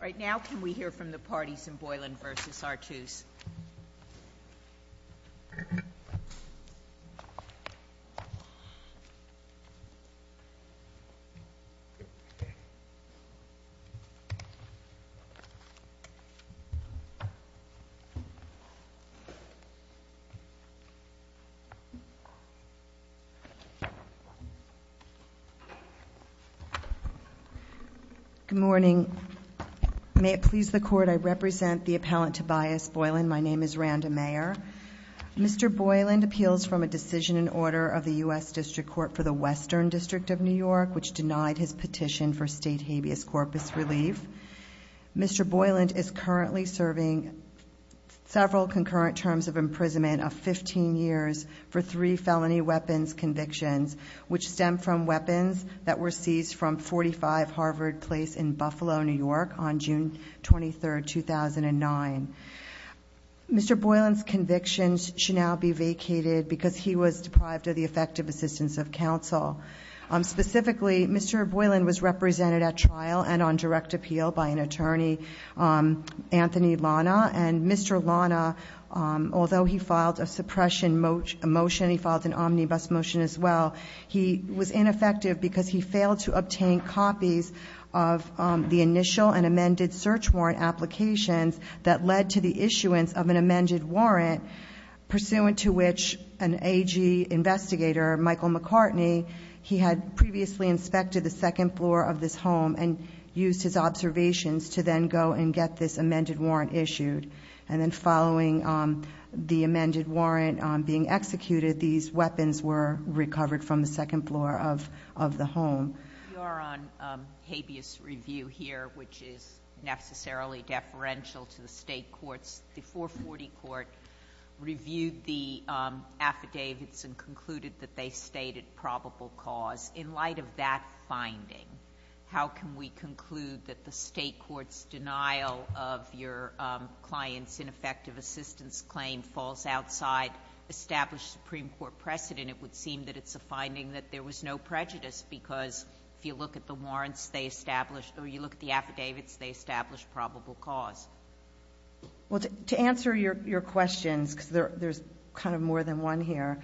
Right now, can we hear from the parties in Boyland v. Artus? Good morning, may it please the court, I represent the Boyland, my name is Randa Mayer. Mr. Boyland appeals from a decision in order of the US District Court for the Western District of New York, which denied his petition for state habeas corpus relief. Mr. Boyland is currently serving several concurrent terms of imprisonment of 15 years for three felony weapons convictions, which stem from weapons that were seized from 45 Harvard Place in Buffalo, New York on June 23, 2009. Mr. Boyland's convictions should now be vacated because he was deprived of the effective assistance of counsel. Specifically, Mr. Boyland was represented at trial and on direct appeal by an attorney, Anthony Lana. And Mr. Lana, although he filed a suppression motion, he filed an omnibus motion as well. He was ineffective because he failed to obtain copies of the initial and amended search warrant applications that led to the issuance of an amended warrant, pursuant to which an AG investigator, Michael McCartney, he had previously inspected the second floor of this home and used his observations to then go and get this amended warrant issued. And then following the amended warrant being executed, these weapons were recovered from the second floor of the home. You are on habeas review here, which is necessarily deferential to the state courts. The 440 court reviewed the affidavits and concluded that they stated probable cause in light of that finding. How can we conclude that the state court's denial of your client's ineffective assistance claim falls outside established Supreme Court precedent? It would seem that it's a finding that there was no prejudice, because if you look at the warrants they established, or you look at the affidavits, they established probable cause. Well, to answer your questions, because there's kind of more than one here.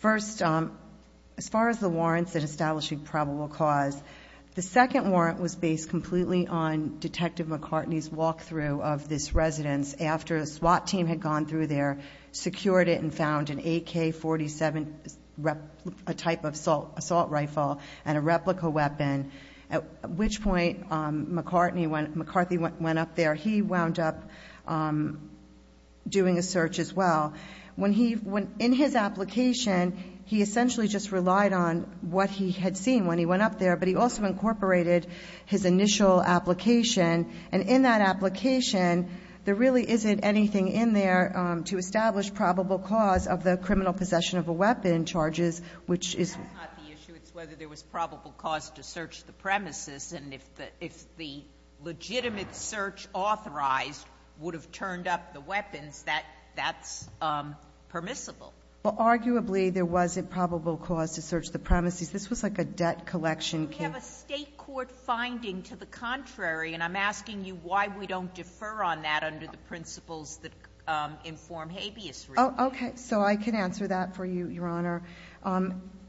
First, as far as the warrants that establish a probable cause, the second warrant was based completely on Detective McCartney's walkthrough of this residence. After a SWAT team had gone through there, secured it, and found an AK-47 type of assault rifle, and a replica weapon, at which point McCartney, when McCarthy went up there, he wound up doing a search as well. In his application, he essentially just relied on what he had seen when he went up there. But he also incorporated his initial application. And in that application, there really isn't anything in there to establish probable cause of the criminal possession of a weapon charges, which is. It's not the issue, it's whether there was probable cause to search the premises. And if the legitimate search authorized would have turned up the weapons, that's permissible. Well, arguably, there was a probable cause to search the premises. This was like a debt collection case. We have a state court finding to the contrary, and I'm asking you why we don't defer on that under the principles that inform habeas. Okay, so I can answer that for you, Your Honor.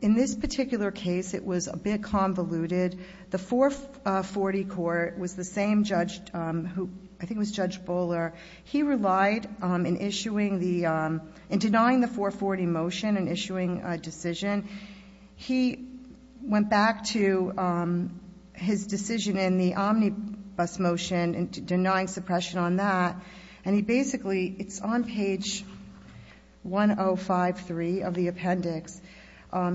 In this particular case, it was a bit convoluted. The 440 court was the same judge who, I think it was Judge Bowler. He relied in denying the 440 motion and issuing a decision. He went back to his decision in the omnibus motion and denying suppression on that, and he basically, it's on page 1053 of the appendix,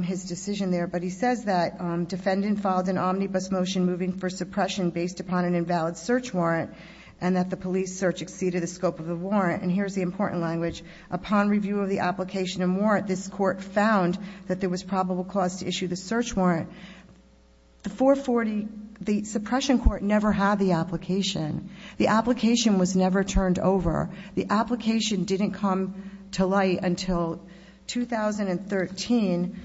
his decision there. But he says that defendant filed an omnibus motion moving for suppression based upon an invalid search warrant. And that the police search exceeded the scope of the warrant. And here's the important language. Upon review of the application and warrant, this court found that there was probable cause to issue the search warrant. The 440, the suppression court never had the application. The application was never turned over. The application didn't come to light until 2013,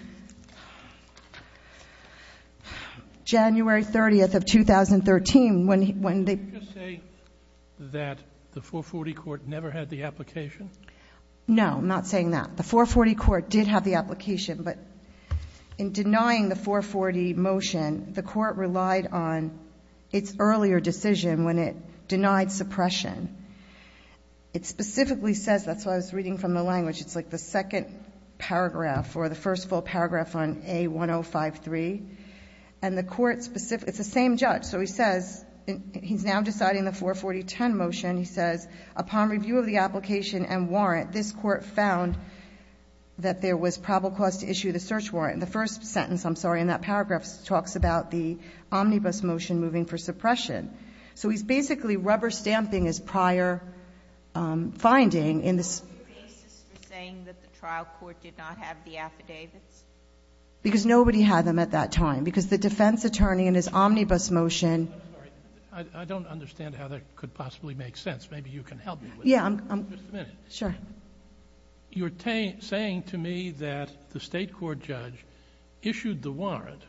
January 30th of 2013, when they- Did you just say that the 440 court never had the application? No, I'm not saying that. The 440 court did have the application, but in denying the 440 motion, the court relied on its earlier decision when it denied suppression. It specifically says, that's why I was reading from the language, it's like the second paragraph for the first full paragraph on A1053, and the court specifically, it's the same judge. So he says, he's now deciding the 440-10 motion. He says, upon review of the application and warrant, this court found that there was probable cause to issue the search warrant. In the first sentence, I'm sorry, in that paragraph, it talks about the omnibus motion moving for suppression. So he's basically rubber stamping his prior finding in this- Affidavits. Because nobody had them at that time, because the defense attorney in his omnibus motion- I'm sorry, I don't understand how that could possibly make sense. Maybe you can help me with that. Yeah, I'm- Just a minute. Sure. You're saying to me that the state court judge issued the warrant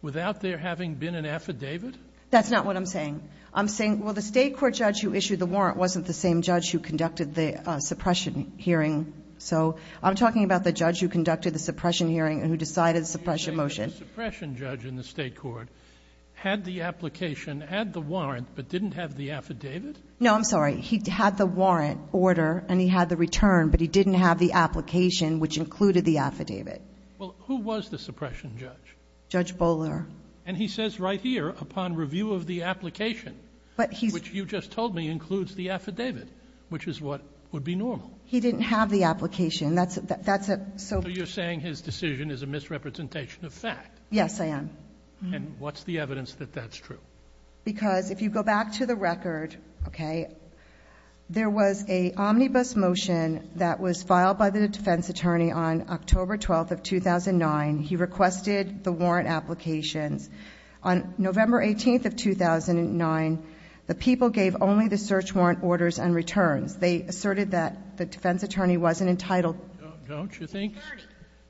without there having been an affidavit? That's not what I'm saying. I'm saying, well the state court judge who issued the warrant wasn't the same judge who conducted the suppression hearing. So I'm talking about the judge who conducted the suppression hearing and who decided the suppression motion. You're saying that the suppression judge in the state court had the application, had the warrant, but didn't have the affidavit? No, I'm sorry. He had the warrant order, and he had the return, but he didn't have the application, which included the affidavit. Well, who was the suppression judge? Judge Bowler. And he says right here, upon review of the application, which you just told me includes the affidavit, which is what would be normal. He didn't have the application. That's a- So you're saying his decision is a misrepresentation of fact? Yes, I am. And what's the evidence that that's true? Because if you go back to the record, okay, there was a omnibus motion that was filed by the defense attorney on October 12th of 2009. He requested the warrant applications. On November 18th of 2009, the people gave only the search warrant orders and returns. They asserted that the defense attorney wasn't entitled to the security.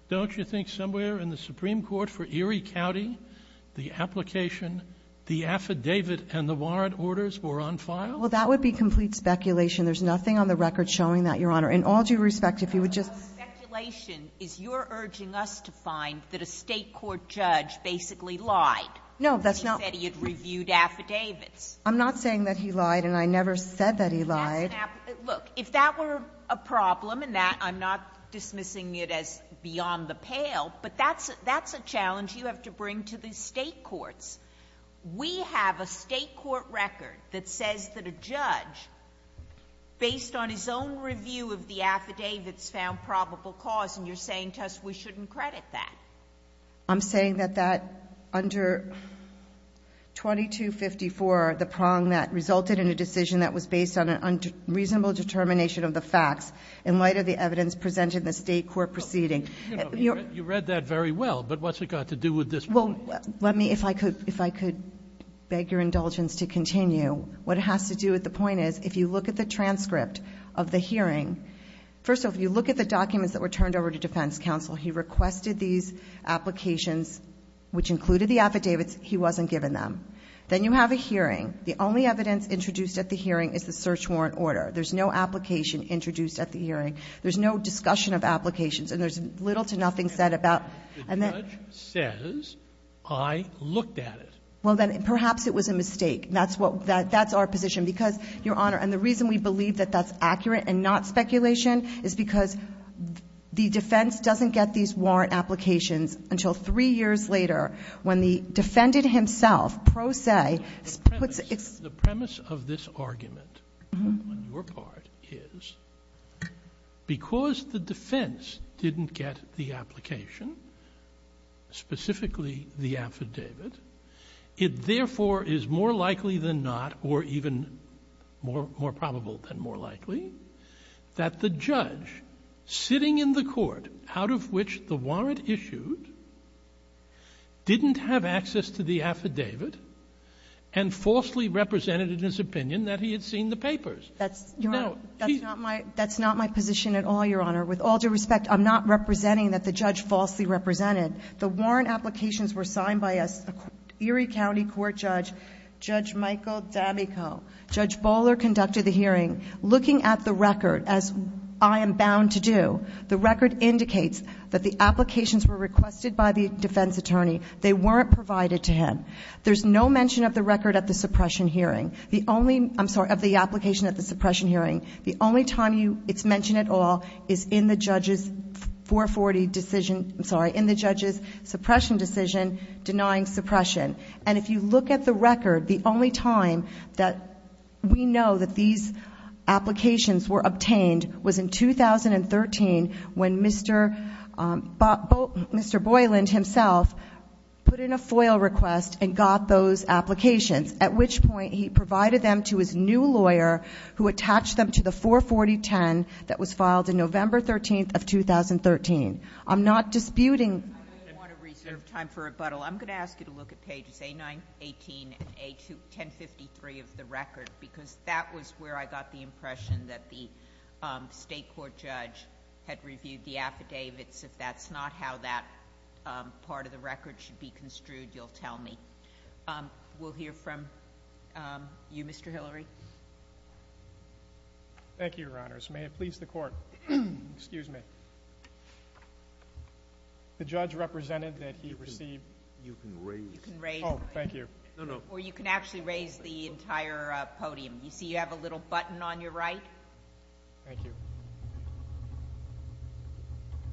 Don't you think somewhere in the Supreme Court for Erie County, the application, the affidavit, and the warrant orders were on file? Well, that would be complete speculation. There's nothing on the record showing that, Your Honor. In all due respect, if you would just- So the speculation is you're urging us to find that a state court judge basically lied. No, that's not- He said he had reviewed affidavits. I'm not saying that he lied, and I never said that he lied. Look, if that were a problem, and I'm not dismissing it as beyond the pale, but that's a challenge you have to bring to the state courts. We have a state court record that says that a judge, based on his own review of the affidavits, found probable cause. And you're saying to us we shouldn't credit that. I'm saying that under 2254, the prong that resulted in a decision that was based on a reasonable determination of the facts, in light of the evidence presented in the state court proceeding- You read that very well, but what's it got to do with this point? Let me, if I could beg your indulgence to continue. What it has to do with the point is, if you look at the transcript of the hearing, First off, you look at the documents that were turned over to defense counsel. He requested these applications, which included the affidavits. He wasn't given them. Then you have a hearing. The only evidence introduced at the hearing is the search warrant order. There's no application introduced at the hearing. There's no discussion of applications, and there's little to nothing said about- The judge says, I looked at it. Well, then perhaps it was a mistake. That's what, that's our position. Because, Your Honor, and the reason we believe that that's accurate and not speculation is because the defense doesn't get these warrant applications until three years later, when the defendant himself, pro se- The premise of this argument on your part is, because the defense didn't get the application, specifically the affidavit, it therefore is more likely than not, or even more probable than more likely, that the judge sitting in the court out of which the warrant issued didn't have access to the affidavit and falsely represented in his opinion that he had seen the papers. That's, Your Honor, that's not my position at all, Your Honor. With all due respect, I'm not representing that the judge falsely represented. The warrant applications were signed by an Erie County court judge, Judge Michael Dabico. Judge Bowler conducted the hearing. Looking at the record, as I am bound to do, the record indicates that the applications were requested by the defense attorney. They weren't provided to him. There's no mention of the record at the suppression hearing. The only, I'm sorry, of the application at the suppression hearing. The only time it's mentioned at all is in the judge's 440 decision, I'm sorry, in the judge's suppression decision, denying suppression. And if you look at the record, the only time that we know that these applications were obtained was in 2013 when Mr. Boyland himself put in a FOIL request and got those applications. At which point, he provided them to his new lawyer who attached them to the 44010 that was filed in November 13th of 2013. I'm not disputing- I don't want to reserve time for rebuttal. I'm going to ask you to look at pages A9, 18, and A1053 of the record, because that was where I got the impression that the state court judge had reviewed the affidavits. If that's not how that part of the record should be construed, you'll tell me. We'll hear from you, Mr. Hillary. Thank you, your honors. May it please the court. Excuse me. The judge represented that he received- You can raise. You can raise. Thank you. No, no. Or you can actually raise the entire podium. You see you have a little button on your right. Thank you.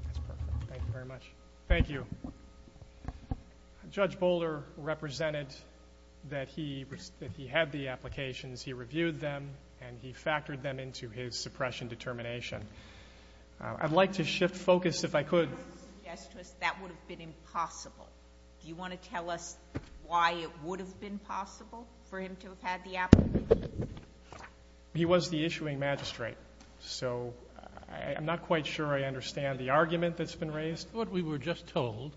That's perfect. Thank you very much. Thank you. Judge Boulder represented that he had the applications. He reviewed them and he factored them into his suppression determination. I'd like to shift focus if I could. I would suggest to us that would have been impossible. Do you want to tell us why it would have been possible for him to have had the application? He was the issuing magistrate, so I'm not quite sure I understand the argument that's been raised. I thought we were just told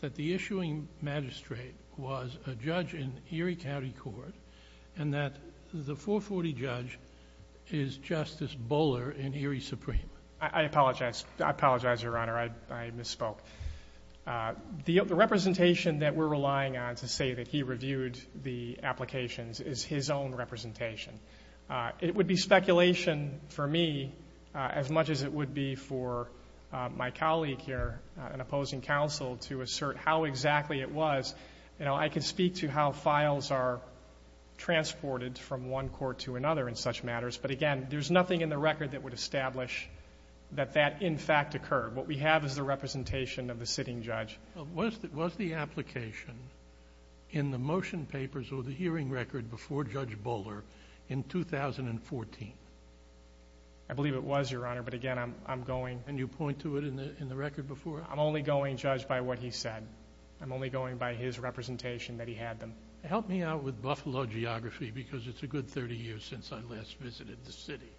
that the issuing magistrate was a judge in Erie County Court, and that the 440 judge is Justice Buller in Erie Supreme. I apologize, your honor, I misspoke. The representation that we're relying on to say that he reviewed the applications is his own representation. It would be speculation for me as much as it would be for my colleague here, an opposing counsel, to assert how exactly it was. I can speak to how files are transported from one court to another in such matters. But again, there's nothing in the record that would establish that that, in fact, occurred. What we have is the representation of the sitting judge. Was the application in the motion papers or the hearing record before Judge Buller in 2014? I believe it was, your honor, but again, I'm going... And you point to it in the record before? I'm only going, judge, by what he said. I'm only going by his representation that he had them. Help me out with Buffalo geography, because it's a good 30 years since I last visited the city.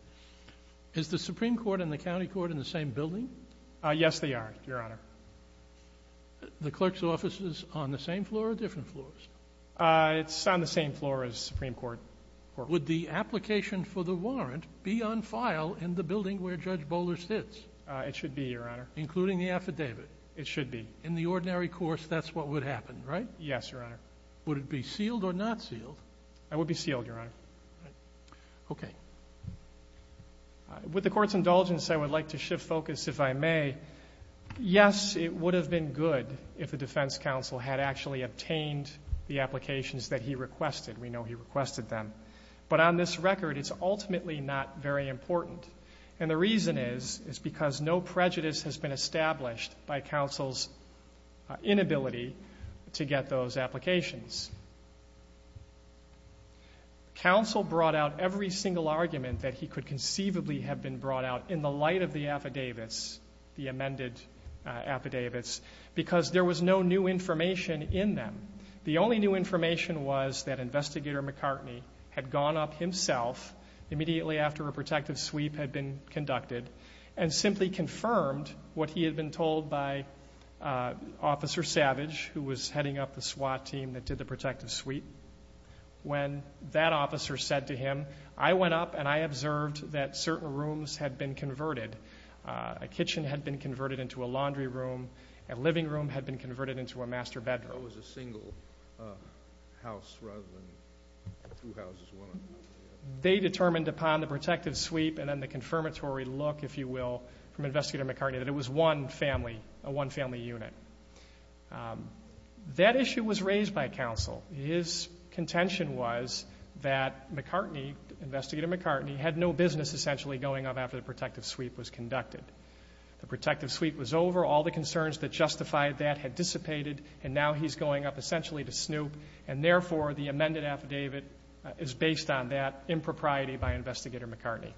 Is the Supreme Court and the County Court in the same building? Yes, they are, your honor. The clerk's office is on the same floor or different floors? It's on the same floor as Supreme Court. Would the application for the warrant be on file in the building where Judge Buller sits? It should be, your honor. Including the affidavit? It should be. In the ordinary course, that's what would happen, right? Yes, your honor. Would it be sealed or not sealed? It would be sealed, your honor. Okay. With the court's indulgence, I would like to shift focus, if I may. Yes, it would have been good if the defense counsel had actually obtained the applications that he requested. We know he requested them. But on this record, it's ultimately not very important. And the reason is, is because no prejudice has been established by counsel's inability to get those applications. Counsel brought out every single argument that he could conceivably have been brought out in the light of the affidavits, the amended affidavits, because there was no new information in them. The only new information was that Investigator McCartney had gone up himself, immediately after a protective sweep had been conducted, and simply confirmed what he had been told by Officer Savage, who was heading up the SWAT team that did the protective sweep. When that officer said to him, I went up and I observed that certain rooms had been converted. A kitchen had been converted into a laundry room, a living room had been converted into a master bedroom. That was a single house rather than two houses, one on top of the other. They determined upon the protective sweep and then the confirmatory look, if you will, from Investigator McCartney, that it was one family, a one family unit. That issue was raised by counsel. His contention was that McCartney, Investigator McCartney, had no business essentially going up after the protective sweep was conducted. The protective sweep was over, all the concerns that justified that had dissipated, and now he's going up essentially to snoop. And therefore, the amended affidavit is based on that impropriety by Investigator McCartney.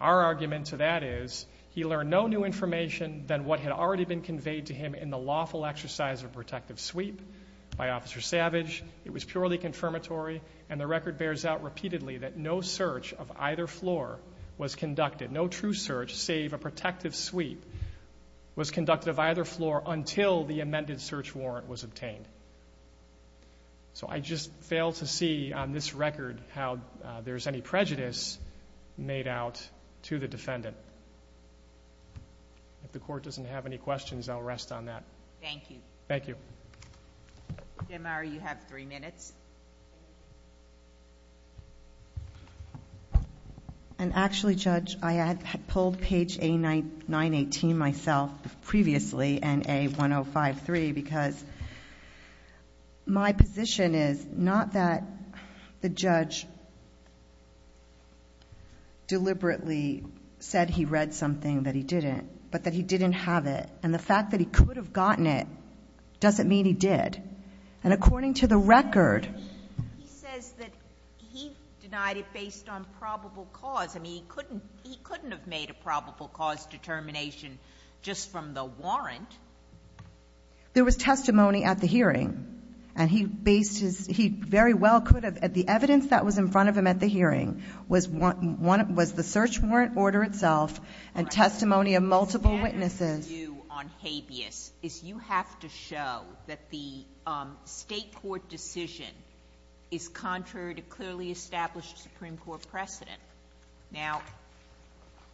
Our argument to that is, he learned no new information than what had already been conveyed to him in the lawful exercise of protective sweep by Officer Savage. It was purely confirmatory, and the record bears out repeatedly that no search of either floor was conducted, no true search save a protective sweep was conducted of either floor until the amended search warrant was obtained. So I just fail to see on this record how there's any prejudice made out to the defendant. If the court doesn't have any questions, I'll rest on that. Thank you. Thank you. Jim, you have three minutes. And actually, Judge, I had pulled page A918 myself previously and A1053 because my position is not that the judge deliberately said he read something that he didn't, but that he didn't have it. And the fact that he could have gotten it doesn't mean he did. And according to the record, he says that he denied it based on probable cause. I mean, he couldn't have made a probable cause determination just from the warrant. There was testimony at the hearing, and he based his, he very well could have. The evidence that was in front of him at the hearing was the search warrant order itself and testimony of multiple witnesses. You on habeas is you have to show that the state court decision is contrary to clearly established Supreme Court precedent. Now,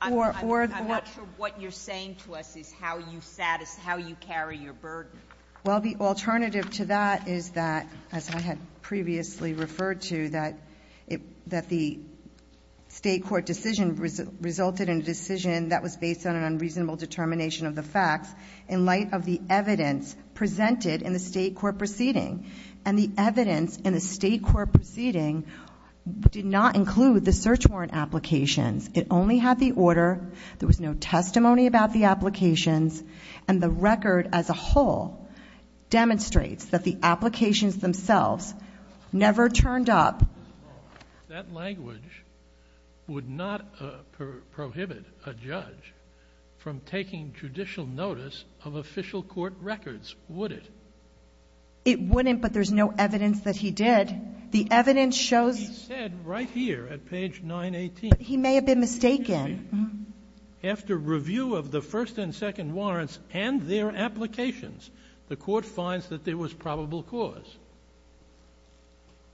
I'm not sure what you're saying to us is how you carry your burden. Well, the alternative to that is that, as I had previously referred to, that the state court decision resulted in a decision that was based on an unreasonable determination of the facts. In light of the evidence presented in the state court proceeding. And the evidence in the state court proceeding did not include the search warrant applications. It only had the order, there was no testimony about the applications, and the record as a whole demonstrates that the applications themselves never turned up. That language would not prohibit a judge from taking judicial notice of official court records, would it? It wouldn't, but there's no evidence that he did. The evidence shows- He said right here at page 918. But he may have been mistaken. After review of the first and second warrants and their applications, the court finds that there was probable cause.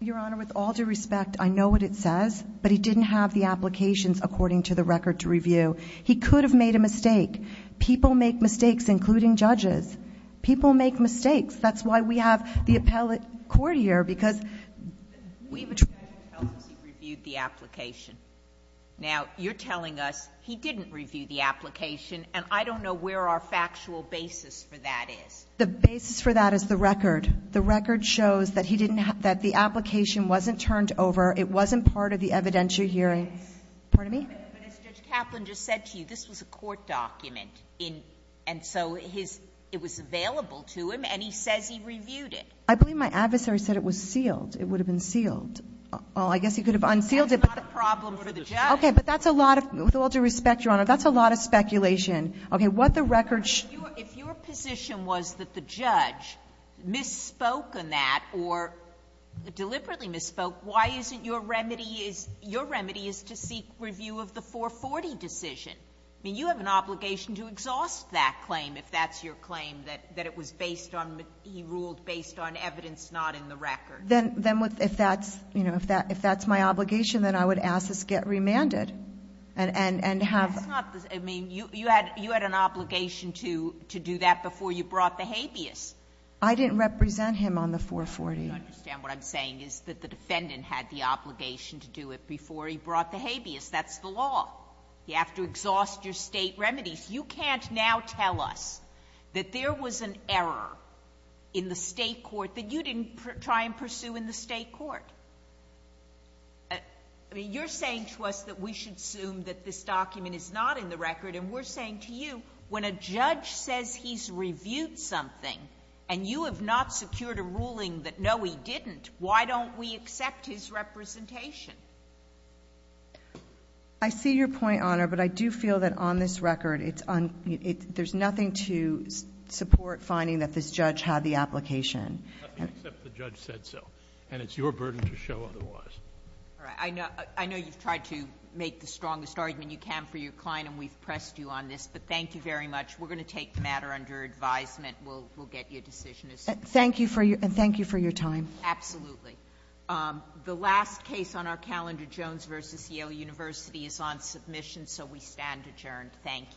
Your Honor, with all due respect, I know what it says, but he didn't have the applications according to the record to review. He could have made a mistake. People make mistakes, including judges. People make mistakes. That's why we have the appellate court here, because- The judge tells us he reviewed the application. Now, you're telling us he didn't review the application, and I don't know where our factual basis for that is. The basis for that is the record. The record shows that he didn't have the application, wasn't turned over, it wasn't part of the evidentiary hearing. Pardon me? But as Judge Kaplan just said to you, this was a court document, and so it was available to him, and he says he reviewed it. I believe my adversary said it was sealed. It would have been sealed. Well, I guess he could have unsealed it, but- That's not a problem for the judge. Okay, but that's a lot of, with all due respect, Your Honor, that's a lot of speculation. Okay, what the record- If your position was that the judge misspoke on that or deliberately misspoke, why isn't your remedy is to seek review of the 440 decision? I mean, you have an obligation to exhaust that claim if that's your claim, that it was based on, he ruled based on evidence not in the record. Then if that's my obligation, then I would ask this get remanded and have- That's not, I mean, you had an obligation to do that before you brought the habeas. I didn't represent him on the 440. You understand what I'm saying is that the defendant had the obligation to do it before he brought the habeas. That's the law. You have to exhaust your state remedies. You can't now tell us that there was an error in the state court that you didn't try and pursue in the state court. I mean, you're saying to us that we should assume that this document is not in the record, and we're saying to you, when a judge says he's reviewed something and you have not secured a ruling that no, he didn't, why don't we accept his representation? I see your point, Honor, but I do feel that on this record, it's on, there's nothing to support finding that this judge had the application. Nothing except the judge said so, and it's your burden to show otherwise. All right. I know you've tried to make the strongest argument you can for your client, and we've pressed you on this, but thank you very much. We're going to take the matter under advisement. We'll get you a decision as soon as possible. Thank you for your time. Absolutely. The last case on our calendar, Jones versus Yale University, is on submission, so we stand adjourned. Thank you.